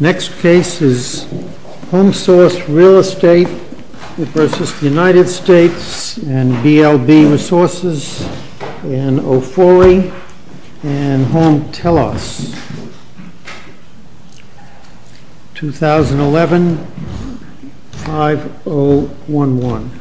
Next case is HOMESOURCE REAL ESTATE v. United States and BLB Resources in Ofori and Home Telos, 2011-5011. HOMESOURCE REAL ESTATE v. United States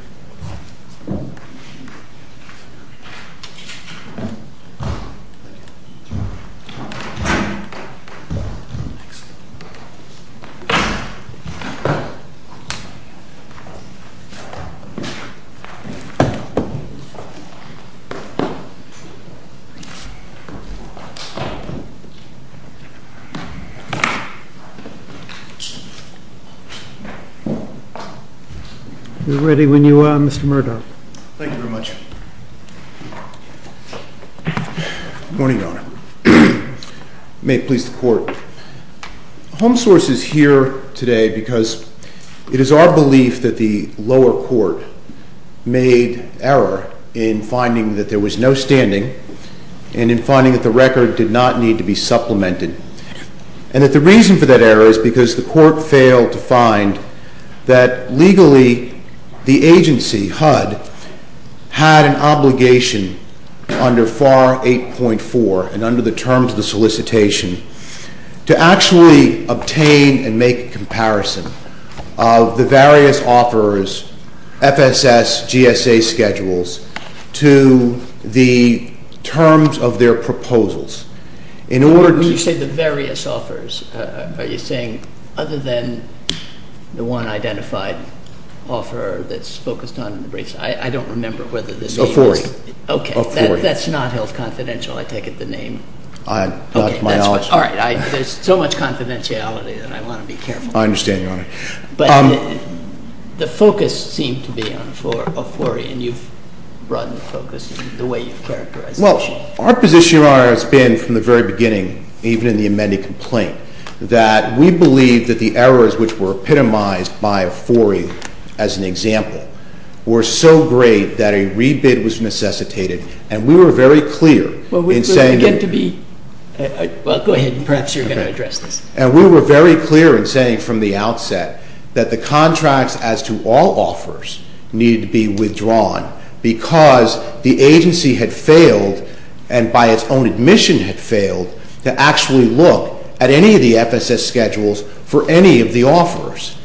Homesource is here today because it is our belief that the lower court made error in finding that there was no standing and in finding that the record did not need to be supplemented and that the reason for that error is because the court failed to find that. Legally, the agency, HUD, had an obligation under FAR 8.4 and under the terms of the solicitation to actually obtain and make a comparison of the various offers, FSS, GSA schedules, to the terms of their proposals. In order to When you say the various offers, are you saying other than the one identified offer that's focused on the briefs? I don't remember whether this was Ofori Ofori Okay, that's not held confidential. I take it the name That's my own All right. There's so much confidentiality that I want to be careful I understand, Your Honor But the focus seemed to be on Ofori and you've broadened the focus in the way you've characterized it Well, our position, Your Honor, has been from the very beginning, even in the amended complaint, that we believe that the errors which were epitomized by Ofori as an example were so great that a rebid was necessitated and we were very clear in saying Well, we began to be Well, go ahead and perhaps you're going to address this And we were very clear in saying from the outset that the contracts as to all offers needed to be withdrawn because the agency had failed and by its own admission had failed to actually look at any of the FSS schedules for any of the offers.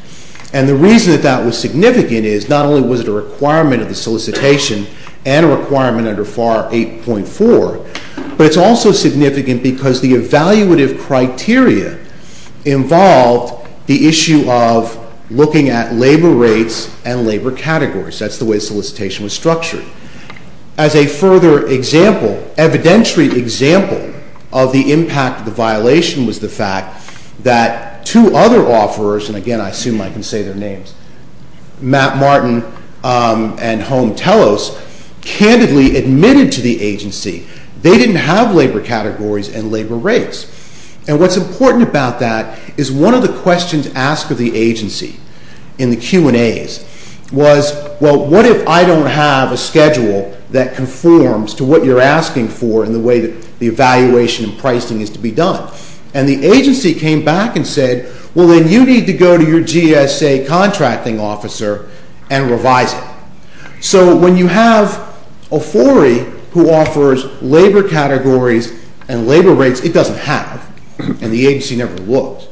And the reason that that was significant is not only was it a requirement of the solicitation and a requirement under FAR 8.4, but it's also significant because the evaluative criteria involved the issue of looking at labor rates and labor categories. That's the way solicitation was structured. As a further example, evidentiary example of the impact of the violation was the fact that two other offerors, and again I assume I can say their names, Matt Martin and Home Telos, candidly admitted to the agency they didn't have labor categories and labor rates. And what's important about that is one of the questions asked of the agency in the Q&As was well, what if I don't have a schedule that conforms to what you're asking for in the way that the evaluation and pricing is to be done? And the agency came back and said, well, then you need to go to your GSA contracting officer and revise it. So when you have a foray who offers labor categories and labor rates, it doesn't have, and the agency never looked.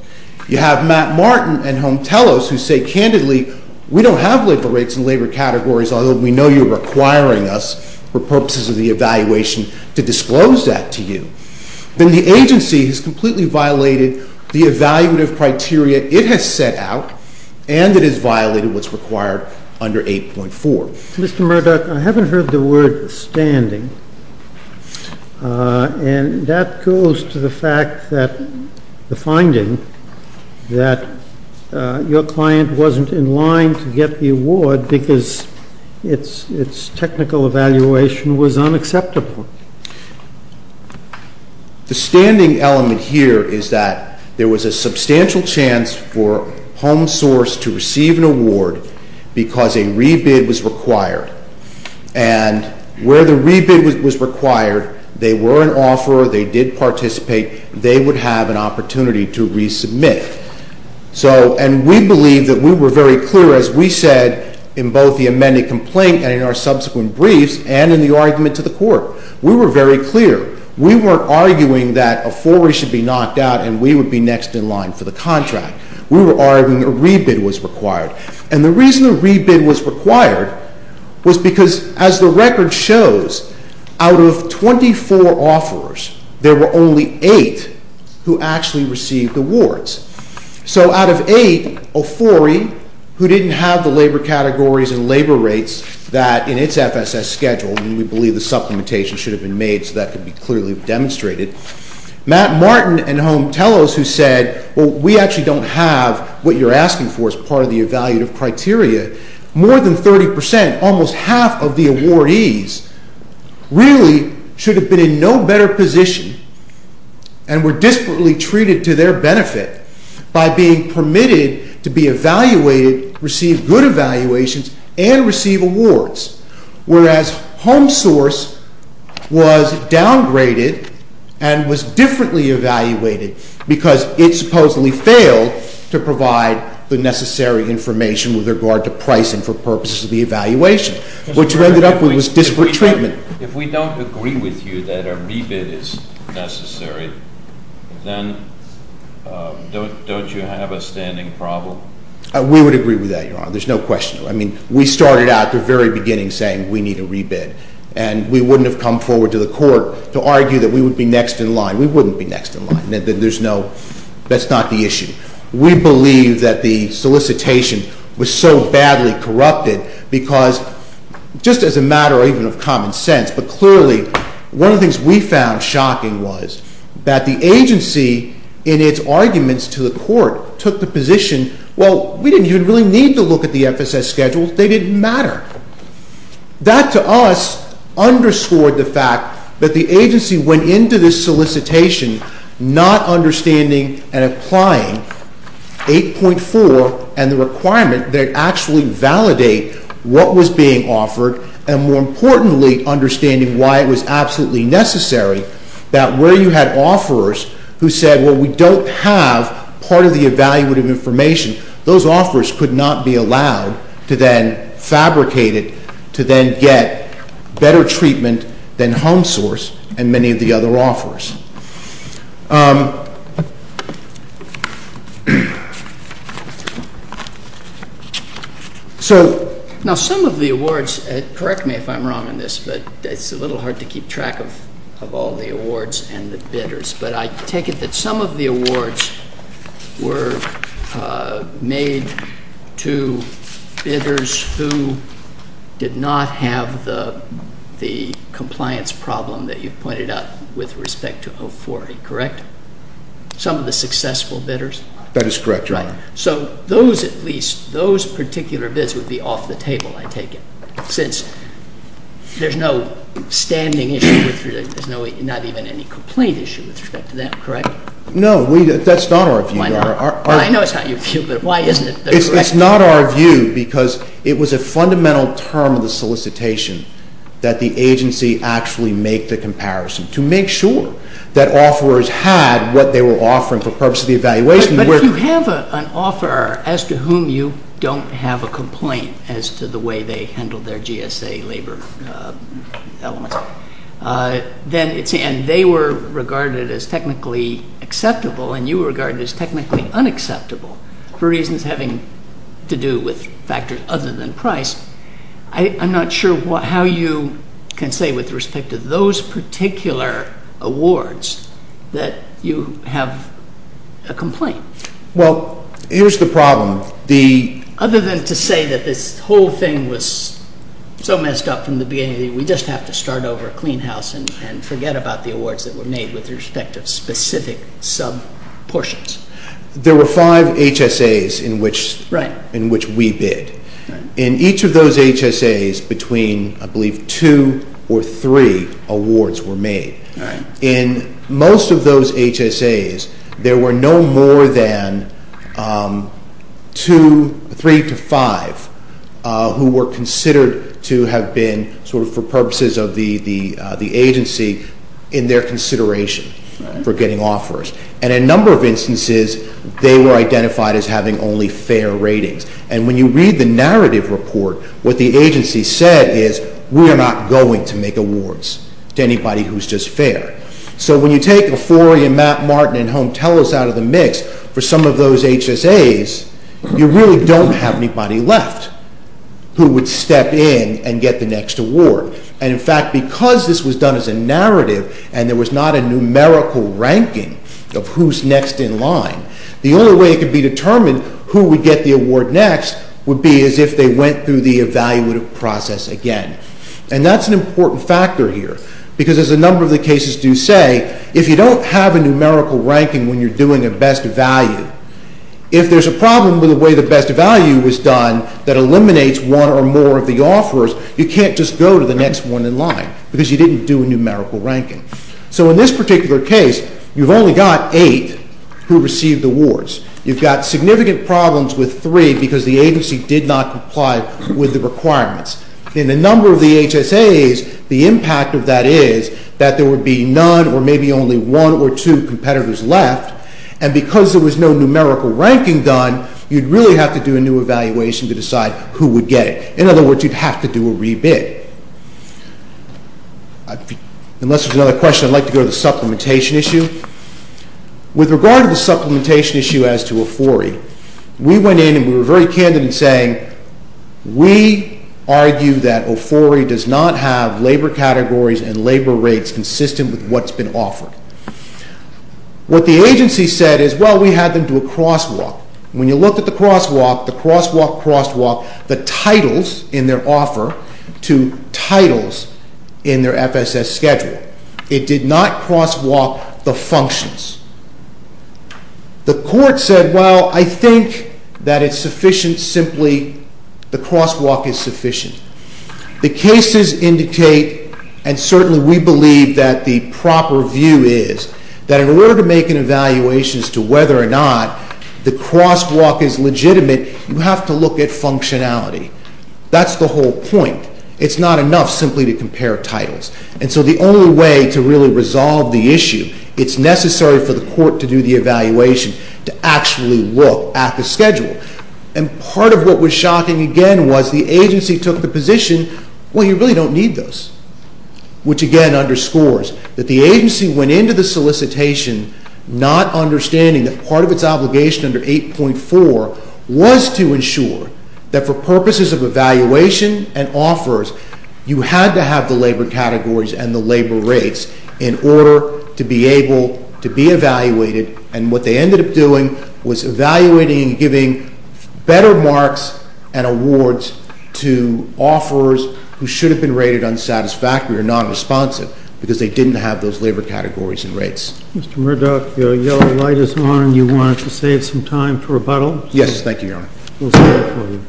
You have Matt Martin and Home Telos who say candidly, we don't have labor rates and labor categories, although we know you're requiring us for purposes of the evaluation to disclose that to you. Then the agency has completely violated the evaluative criteria it has set out, and it has violated what's required under 8.4. MR. MERDOCK, I haven't heard the word standing, and that goes to the fact that the finding that your client wasn't in line to get the award because its technical evaluation was unacceptable. The standing element here is that there was a substantial chance for HomeSource to receive an award because a rebid was required, and where the rebid was required, they were an offeror, they did participate, they would have an opportunity to resubmit. So and we believe that we were very clear, as we said in both the amended complaint and in our subsequent briefs and in the argument to the court, we were very clear. We weren't arguing that a foray should be knocked out and we would be next in line for the contract. We were arguing a rebid was required, and the reason a rebid was required was because, as the record shows, out of 24 offerors, there were only 8 who actually received awards. So out of 8, a foray who didn't have the labor categories and labor rates that in its FSS schedule, and we believe the supplementation should have been made so that could be clearly demonstrated, Matt Martin and Home Tellos who said, well, we actually don't have what you're asking for as part of the evaluative criteria, more than 30 percent, almost half of the awardees really should have been in no better position and were desperately treated to their benefit by being permitted to be evaluated, receive good evaluations, and receive awards. Whereas HomeSource was downgraded and was differently evaluated because it supposedly failed to provide the necessary information with regard to pricing for purposes of the evaluation. What you ended up with was disparate treatment. If we don't agree with you that a rebid is necessary, then don't you have a standing problem? We would agree with that, Your Honor. There's no question. I mean, we started out at the very beginning saying we need a rebid, and we wouldn't have come forward to the court to argue that we would be next in line. We wouldn't be next in line. There's no—that's not the issue. We believe that the solicitation was so badly corrupted because, just as a matter even of common sense, but clearly, one of the things we found shocking was that the agency, in its arguments to the court, took the position, well, we didn't even really need to look at the FSS schedule. They didn't matter. That to us underscored the fact that the agency went into this solicitation not understanding and applying 8.4 and the requirement that it actually validate what was being offered and, more importantly, understanding why it was absolutely necessary that where you had offerors who said, well, we don't have part of the evaluative information, those offerors could not be allowed to then fabricate it, to then get better treatment than Home Source and many of the other offerors. So, now some of the awards—correct me if I'm wrong in this, but it's a little hard to keep track of all the awards and the bidders—but I take it that some of the awards were made to bidders who did not have the compliance problem that you pointed out with respect to 040, correct? Some of the successful bidders? That is correct, Your Honor. So those, at least, those particular bids would be off the table, I take it, since there's no standing issue with—not even any complaint issue with respect to that, correct? No, that's not our view, Your Honor. I know it's not your view, but why isn't it the correct view? It's not our view because it was a fundamental term of the solicitation that the agency actually made the comparison to make sure that offerors had what they were offering for the purpose of the evaluation. But if you have an offeror as to whom you don't have a complaint as to the way they handled their GSA labor elements, and they were regarded as technically acceptable and you were regarded as technically unacceptable for reasons having to do with factors other than price, I'm not sure how you can say with respect to those particular awards that you have a complaint. Well, here's the problem. The— Other than to say that this whole thing was so messed up from the beginning that we just have to start over a clean house and forget about the awards that were made with respect to specific sub-portions. There were five HSAs in which— Right. —in which we bid. Right. In each of those HSAs, between, I believe, two or three awards were made. Right. In most of those HSAs, there were no more than two, three to five who were considered to have been sort of for purposes of the agency in their consideration for getting offers. And in a number of instances, they were identified as having only fair ratings. And when you read the narrative report, what the agency said is, we are not going to make awards to anybody who's just fair. So when you take a four-year Matt Martin and home tellers out of the mix for some of those HSAs, you really don't have anybody left who would step in and get the next award. And in fact, because this was done as a narrative and there was not a numerical ranking of who's next in line, the only way it could be determined who would get the award next would be as if they went through the evaluative process again. And that's an important factor here, because as a number of the cases do say, if you don't have a numerical ranking when you're doing a best value, if there's a problem with the way the best value was done that eliminates one or more of the offers, you can't just go to the next one in line, because you didn't do a numerical ranking. So in this particular case, you've only got eight who received awards. You've got significant problems with three, because the agency did not comply with the requirements. In a number of the HSAs, the impact of that is that there would be none or maybe only one or two competitors left, and because there was no numerical ranking done, you'd really have to do a new evaluation to decide who would get it. In other words, you'd have to do a re-bid. Unless there's another question, I'd like to go to the supplementation issue. With regard to the supplementation issue as to OFORI, we went in and we were very candid in saying we argue that OFORI does not have labor categories and labor rates consistent with what's been offered. What the agency said is, well, we had them do a crosswalk. When you look at the crosswalk, the crosswalk, crosswalk, the titles in their offer to titles in their FSS schedule, it did not crosswalk the functions. The court said, well, I think that it's sufficient simply the crosswalk is sufficient. The cases indicate, and certainly we believe that the proper view is, that in order to make an evaluation as to whether or not the crosswalk is legitimate, you have to look at functionality. That's the whole point. It's not enough simply to compare titles. And so the only way to really resolve the issue, it's necessary for the court to do the evaluation, to actually look at the schedule. And part of what was shocking, again, was the agency took the position, well, you really don't need those, which again underscores that the agency went into the solicitation not understanding that part of its obligation under 8.4 was to ensure that for purposes of evaluation and offers, you had to have the labor categories and the labor rates in order to be able to be evaluated. And what they ended up doing was evaluating and giving better marks and awards to offerers who should have been rated unsatisfactory or non-responsive because they didn't have those labor categories and rates. Mr. Murdoch, your yellow light is on. You wanted to save some time for rebuttal? Yes, thank you, Your Honor. We'll stand for you.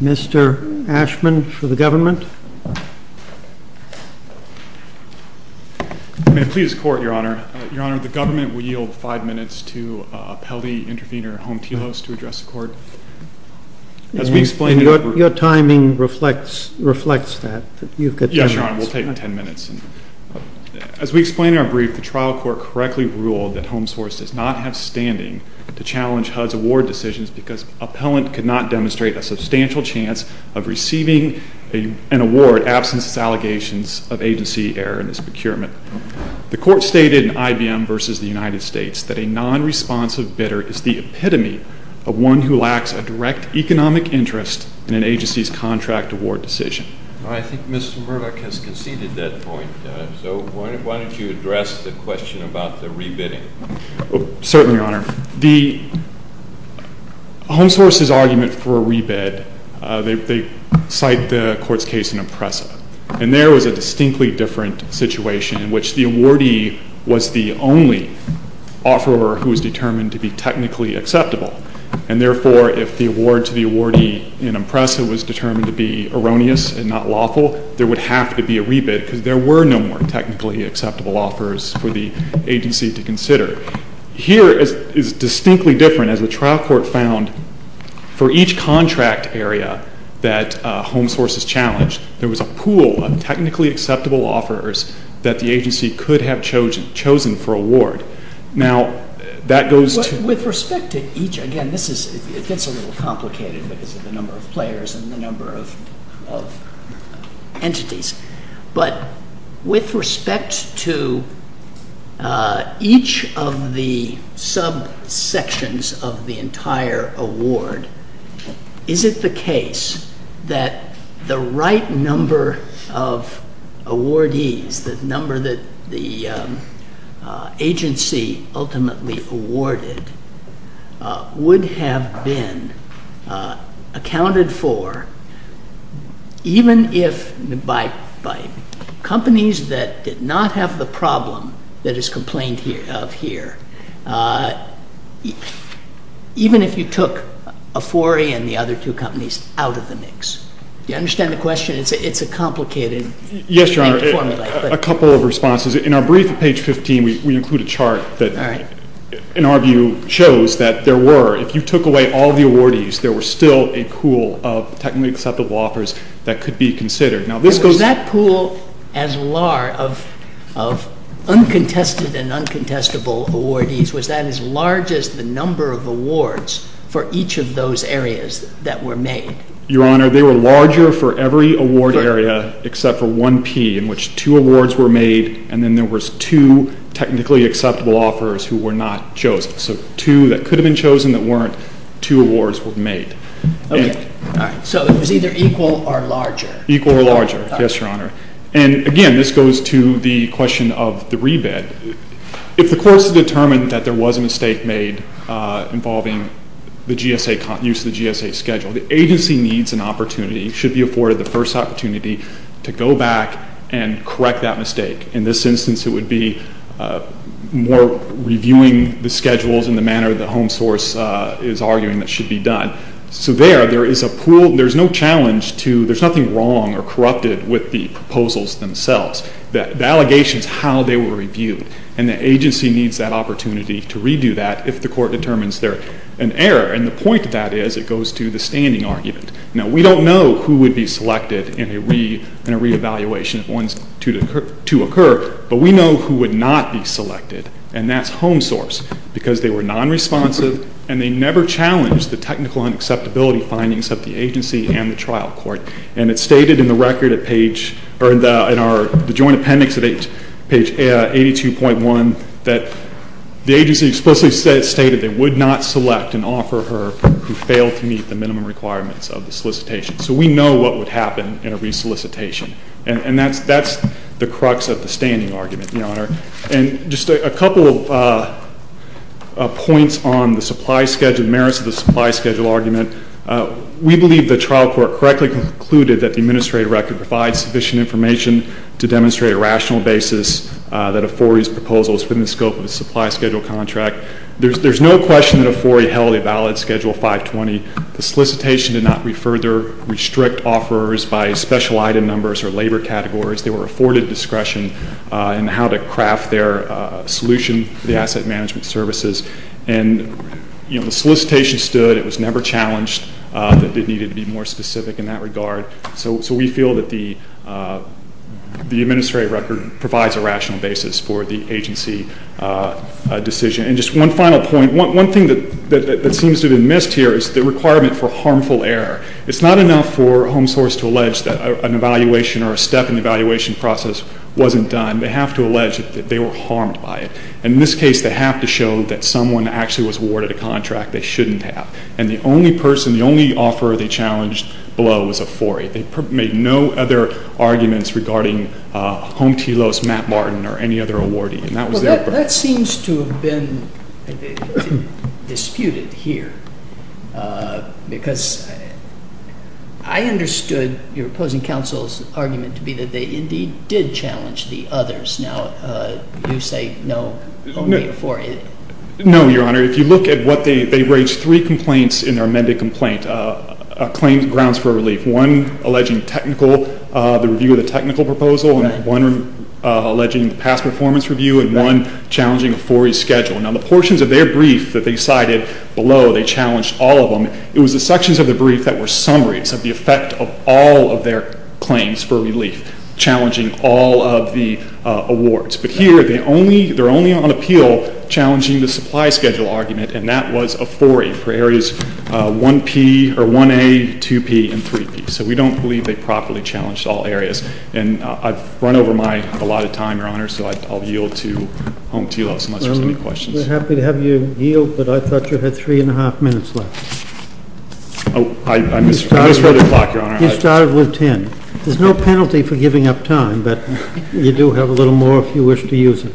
Mr. Ashman for the government. May it please the court, Your Honor. Your Honor, the government will yield five minutes to appellee intervener Home Tilos to address the court. Your timing reflects that. You've got ten minutes. Yes, Your Honor, we'll take ten minutes. As we explain in our brief, the trial court correctly ruled that Home Source does not have standing to challenge HUD's award decisions because appellant could not demonstrate a substantial chance of receiving an award absence of allegations of agency error in this procurement. The court stated in IBM versus the United States that a non-responsive bidder is the one who lacks a direct economic interest in an agency's contract award decision. I think Mr. Murdoch has conceded that point. So why don't you address the question about the re-bidding? Certainly, Your Honor. The Home Source's argument for a re-bid, they cite the court's case in Opressa. And there was a distinctly different situation in which the awardee was the only offerer who was determined to be technically acceptable. And therefore, if the award to the awardee in Opressa was determined to be erroneous and not lawful, there would have to be a re-bid because there were no more technically acceptable offers for the agency to consider. Here is distinctly different as the trial court found for each contract area that Home Source has challenged. There was a pool of technically acceptable offers that the agency could have chosen for award. With respect to each, again, it gets a little complicated because of the number of players and the number of entities. But with respect to each of the sub-sections of the entire award, is it the case that the right number of awardees, the number that the agency ultimately awarded, would have been accounted for even if by companies that did not have the problem that is complained of here? Even if you took Afori and the other two companies out of the mix? Do you understand the question? It's a complicated thing to formulate. Yes, Your Honor. A couple of responses. In our brief at page 15, we include a chart that, in our view, shows that there were, if you took away all the awardees, there were still a pool of technically acceptable offers that could be considered. Was that pool of uncontested and uncontestable awardees, was that as large as the number of awards for each of those areas that were made? Your Honor, they were larger for every award area except for 1P, in which two awards were made, and then there was two technically acceptable offers who were not chosen. So two that could have been chosen that weren't, two awards were made. Okay. So it was either equal or larger. Equal or larger, yes, Your Honor. And again, this goes to the question of the rebid. If the courts had determined that there was a mistake made involving the GSA, use of the GSA schedule, the agency needs an opportunity, should be afforded the first opportunity, to go back and correct that mistake. In this instance, it would be more reviewing the schedules in the manner that Home Source is arguing that should be done. So there, there is a pool, there's no challenge to, there's nothing wrong or corrupted with the proposals themselves. The allegation is how they were reviewed, and the agency needs that opportunity to redo that if the court determines there's an error. And the point of that is, it goes to the standing argument. Now, we don't know who would be selected in a re-evaluation, if one's to occur, but we know who would not be selected, and that's Home Source, because they were non-responsive, and they never challenged the technical and acceptability findings of the agency and the trial court. And it's stated in the record at page, or in our joint appendix at page 82.1, that the agency explicitly stated they would not select and offer her who failed to meet the minimum requirements of the solicitation. So we know what would happen in a re-solicitation. And just a couple of points on the supply schedule, the merits of the supply schedule argument. We believe the trial court correctly concluded that the administrative record provides sufficient information to demonstrate a rational basis that a 4E's proposal is within the scope of a supply schedule contract. There's no question that a 4E held a valid Schedule 520. The solicitation did not further restrict offers by special item numbers or labor categories. They were afforded discretion in how to craft their solution for the asset management services. And the solicitation stood. It was never challenged that they needed to be more specific in that regard. So we feel that the administrative record provides a rational basis for the agency decision. And just one final point. One thing that seems to have been missed here is the requirement for harmful error. It's not enough for Home Source to allege that an evaluation or a step in the evaluation process wasn't done. They have to allege that they were harmed by it. And in this case, they have to show that someone actually was awarded a contract they shouldn't have. And the only person, the only offer they challenged below was a 4E. They made no other arguments regarding Home T. Lowe's, Matt Martin, or any other awardee. And that was their point. Well, that seems to have been disputed here because I understood your opposing counsel's argument to be that they indeed did challenge the others. Now you say no, only a 4A. No, Your Honor. If you look at what they, they raised three complaints in their amended complaint. A claim grounds for a relief. One alleging technical, the review of the technical proposal, and one alleging the past performance review, and one challenging a 4E schedule. Now the portions of their brief that they cited below, they challenged all of them. It was the sections of the brief that were summaries of the effect of all of their claims for relief, challenging all of the awards. But here, they're only on appeal challenging the supply schedule argument, and that was a 4E for areas 1A, 2P, and 3P. So we don't believe they properly challenged all areas. And I've run over my, a lot of time, Your Honor, so I'll yield to Home T. Lowe's unless there's any questions. We're happy to have you yield, but I thought you had three and a half minutes left. Oh, I misread the clock, Your Honor. You started with ten. There's no penalty for giving up time, but you do have a little more if you wish to use it.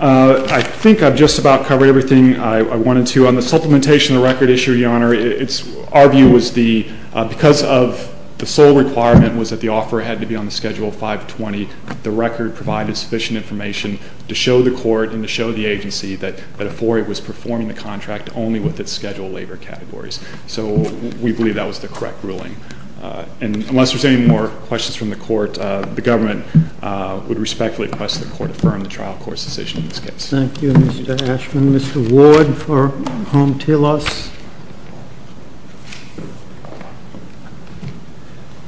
I think I've just about covered everything I wanted to. On the supplementation of the record issue, Your Honor, it's, our view was the, because of the sole requirement was that the offer had to be on the schedule 520, the record provided sufficient information to show the court and to show the agency that a 4E was performing the contract only with its schedule labor categories. So we believe that was the correct ruling. And unless there's any more questions from the court, the government would respectfully request the court affirm the trial court's decision in this case. Thank you, Mr. Ashman. Mr. Ward for Home T. Lowe's.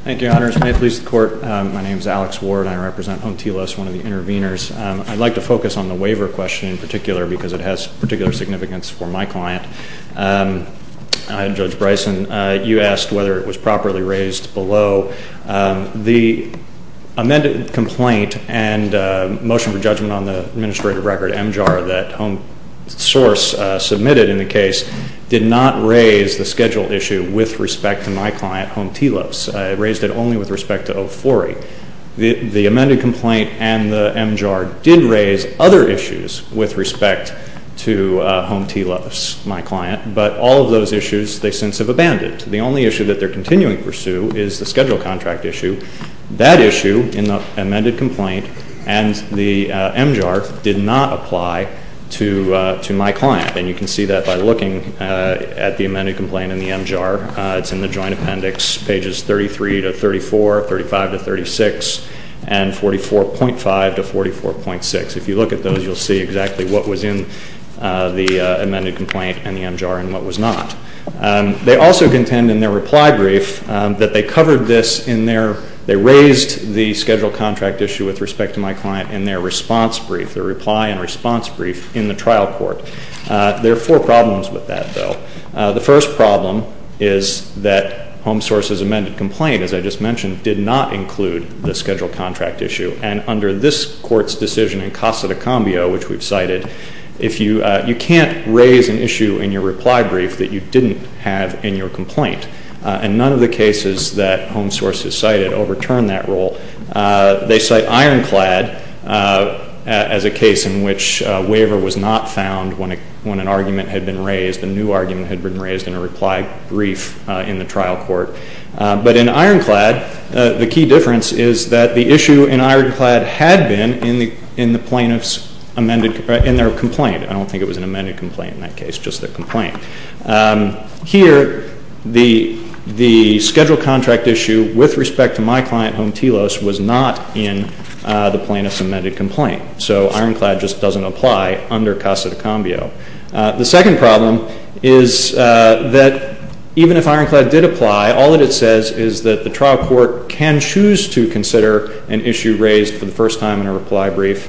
Thank you, Your Honor. As may it please the court, my name is Alex Ward. I represent Home T. Lowe's, one of the interveners. I'd like to focus on the waiver question in particular because it has particular significance for my client. Judge Bryson, you asked whether it was properly raised below. The amended complaint and motion for judgment on the administrative record, MJAR, that Home Source submitted in the case did not raise the schedule issue with respect to my client, Home T. Lowe's. It raised it only with respect to 040. The amended complaint and the MJAR did raise other issues with respect to Home T. Lowe's, my client. But all of those issues they since have abandoned. The only issue that they're continuing to pursue is the schedule contract issue. That issue in the amended complaint and the MJAR did not apply to my client. And you can see that by looking at the amended complaint and the MJAR. It's in the joint appendix, pages 33 to 34, 35 to 36, and 44.5 to 44.6. If you look at those, you'll see exactly what was in the amended complaint and the MJAR and what was not. They also contend in their reply brief that they covered this in their, they raised the schedule contract issue with respect to my client in their response brief, their reply and response brief in the trial court. There are four problems with that, though. The first problem is that Home Source's amended complaint, as I just mentioned, did not include the schedule contract issue. And under this court's decision in Casa de Cambio, which we've cited, you can't raise an issue in your reply brief that you didn't have in your complaint. And none of the cases that Home Source has cited overturn that rule. They cite Ironclad as a case in which a waiver was not found when an argument had been raised, a new argument had been raised in a reply brief in the trial court. But in Ironclad, the key difference is that the issue in Ironclad had been in the plaintiff's amended, in their complaint. I don't think it was an amended complaint in that case, just their complaint. Here, the schedule contract issue with respect to my client, Home Telos, was not in the plaintiff's amended complaint. So Ironclad just doesn't apply under Casa de Cambio. The second problem is that even if Ironclad did apply, all that it says is that the trial court can choose to consider an issue raised for the first time in a reply brief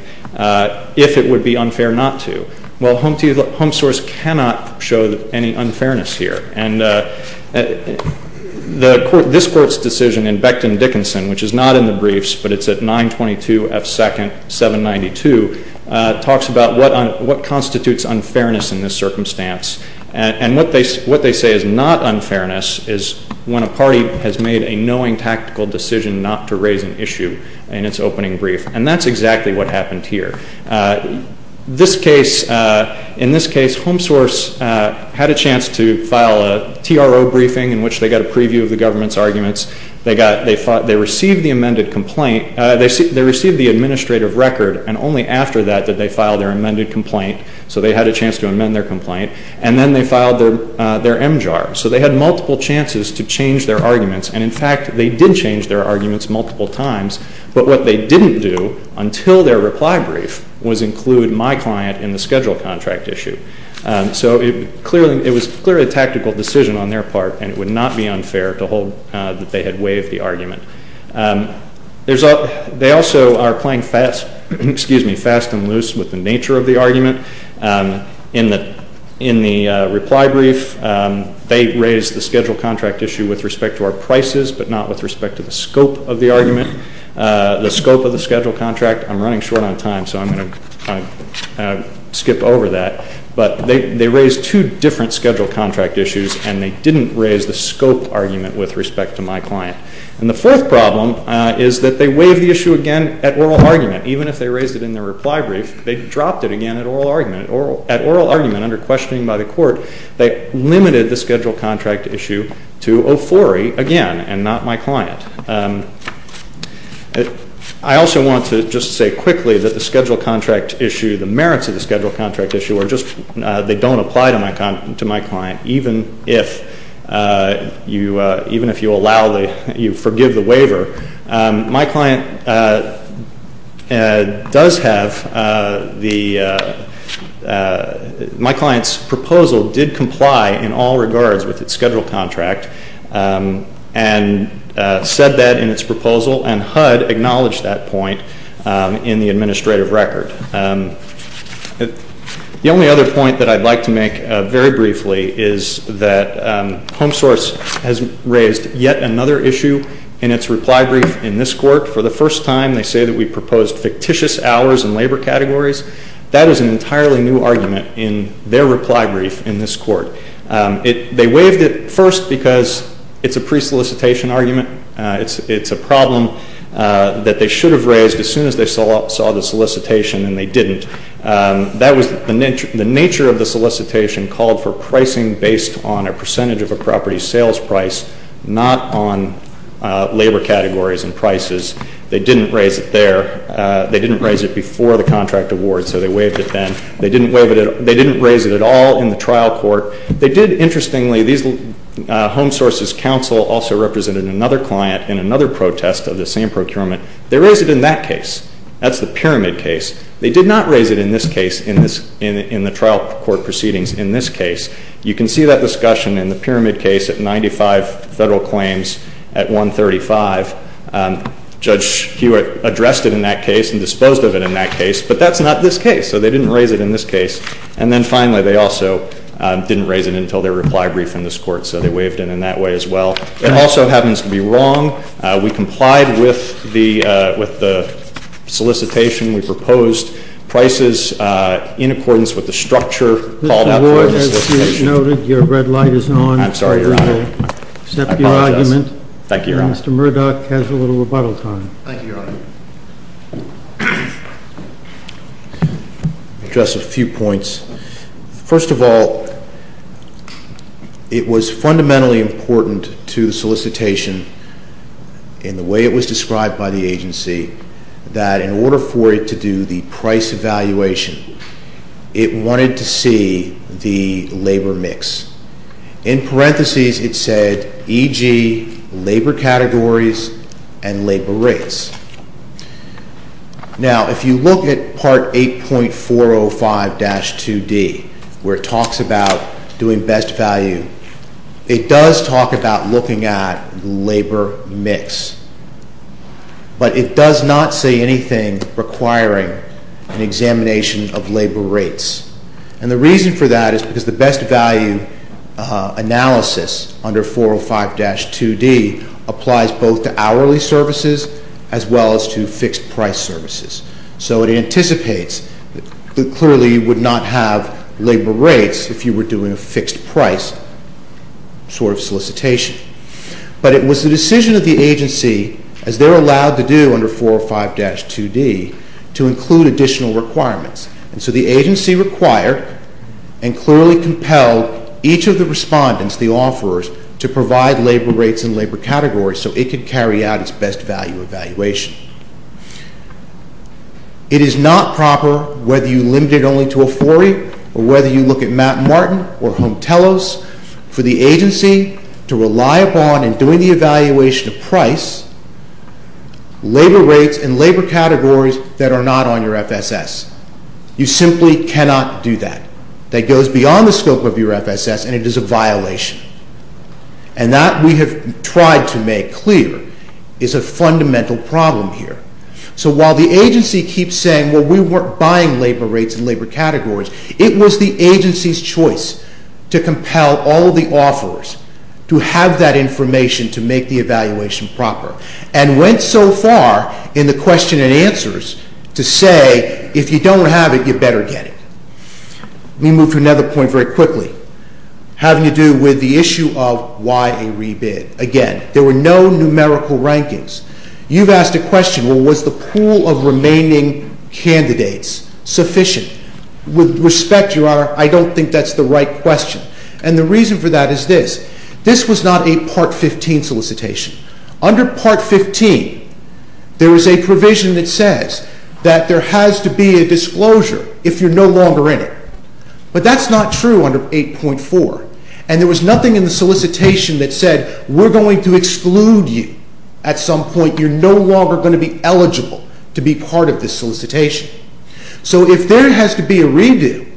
if it would be unfair not to. Well, Home Source cannot show any unfairness here. And this court's decision in Becton-Dickinson, which is not in the briefs, but it's at 922 F. 2nd, 792, talks about what constitutes unfairness in this circumstance. And what they say is not unfairness is when a party has made a knowing tactical decision not to raise an issue in its opening brief. And that's exactly what happened here. This case, in this case, Home Source had a chance to file a TRO briefing in which they got a preview of the government's arguments. They received the amended complaint, they received the administrative record and only after that did they file their amended complaint. So they had a chance to amend their complaint. And then they filed their MJAR. So they had multiple chances to change their arguments. And in fact, they did change their arguments multiple times, but what they didn't do until their reply brief was include my client in the schedule contract issue. So it was clearly a tactical decision on their part and it would not be unfair to hold that they had waived the argument. They also are playing fast and loose with the nature of the argument. In the reply brief, they raised the schedule contract issue with respect to our prices but not with respect to the scope of the argument, the scope of the schedule contract. I'm running short on time so I'm going to skip over that. But they raised two different schedule contract issues and they didn't raise the scope argument with respect to my client. And the fourth problem is that they waived the issue again at oral argument. they dropped it again at oral argument. At oral argument, under questioning by the court, they limited the schedule contract issue to OFORI again and not my client. I also want to just say quickly that the schedule contract issue, the merits of the schedule contract issue are just, they don't apply to my client even if you allow the, you forgive the waiver. My client does have the, my client's proposal did comply in all regards with its schedule contract and said that in its proposal and HUD acknowledged that point in the administrative record. The only other point that I'd like to make very briefly is that HomeSource has raised yet another issue in its reply brief in this court. For the first time, they say that we proposed fictitious hours and labor categories. That is an entirely new argument in their reply brief in this court. They waived it first because it's a pre-solicitation argument. It's a problem that they should have raised as soon as they saw the solicitation and they didn't. That was the nature of the solicitation called for pricing based on a percentage of a property sales price not on labor categories and prices. They didn't raise it there. They didn't raise it before the contract award so they waived it then. They didn't raise it at all in the trial court. They did, interestingly, HomeSource's counsel also represented another client in another protest of the same procurement. They raised it in that case. That's the pyramid case. They did not raise it in this case in the trial court proceedings in this case. You can see that discussion in the pyramid case at 95 federal claims at 135. Judge Hewitt addressed it in that case and disposed of it in that case but that's not this case so they didn't raise it in this case and then finally they also didn't raise it until their reply brief in this court so they waived it in that way as well. It also happens to be wrong. We complied with the solicitation. We proposed prices with the structure called for in the solicitation. Mr. Ward, as noted, for you to accept your argument. I apologize. Thank you, Your Honor. Mr. Murdoch has a little rebuttal time. Thank you, Your Honor. Just a few points. First of all, it was fundamentally important to the solicitation in the way it was described by the agency that in order for it to do the price evaluation it wanted to see It wanted to see the labor mix and in parentheses it said e.g. labor categories and labor rates. It wanted to see the labor mix and in parentheses it wanted the labor mix. Now, if you look at part 8.405-2D where it talks about doing best value it does talk about looking at the labor mix but it does not say anything requiring an examination of labor rates and the reason for that is because the best value analysis under 405-2D applies both to hourly services as well as to fixed price services so it anticipates that clearly you would not have labor rates if you were doing a fixed price sort of solicitation but it was the decision of the agency as they were allowed to do under 405-2D to include additional requirements and so the agency required and clearly compelled each of the respondents the offerers to provide labor rates and labor categories so it could carry out its best value evaluation it is not proper whether you limit it only to a 40 or whether you look at Mt. Martin or Home Telos for the agency to rely upon and doing the evaluation of price labor rates and labor categories that are not on your FSS you simply cannot do that that goes beyond the scope of your FSS and it is a violation and that we have tried to make clear is a fundamental problem here so while the agency has done its best value evaluation proper and went so far in the question and answers to say if you don't have it you better get it let me move to another point very quickly having to do with the issue of why a part 15 there is a provision that says that there has to be a disclosure if you are no longer in it but that is not true under 8.4 and there was nothing in the solicitation that said we are going to exclude you at some point you are no longer going to be eligible to be part of the solicitation so if there has to be a redo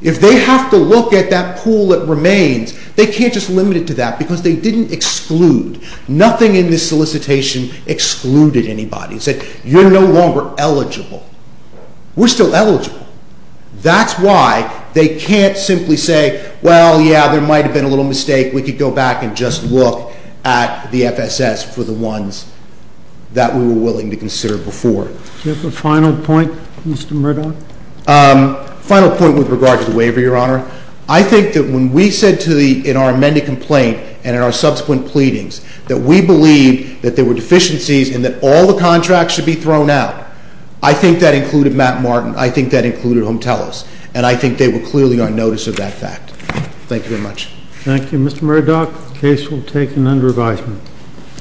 if they have to look at that pool that remains they can't just limit it to that because they didn't exclude nothing in the solicitation excluded anybody you are no longer eligible we are still eligible that is why they can't simply say there might have been a mistake we can go back and just look at the FSS for the ones we were willing to consider before final point with regard to the waiver I think when we said in our subsequent pleadings we believed all the contracts should be taken under advisement I think they were clearly on notice of that fact thank you very much thank you Mr. Murdoch case will take an under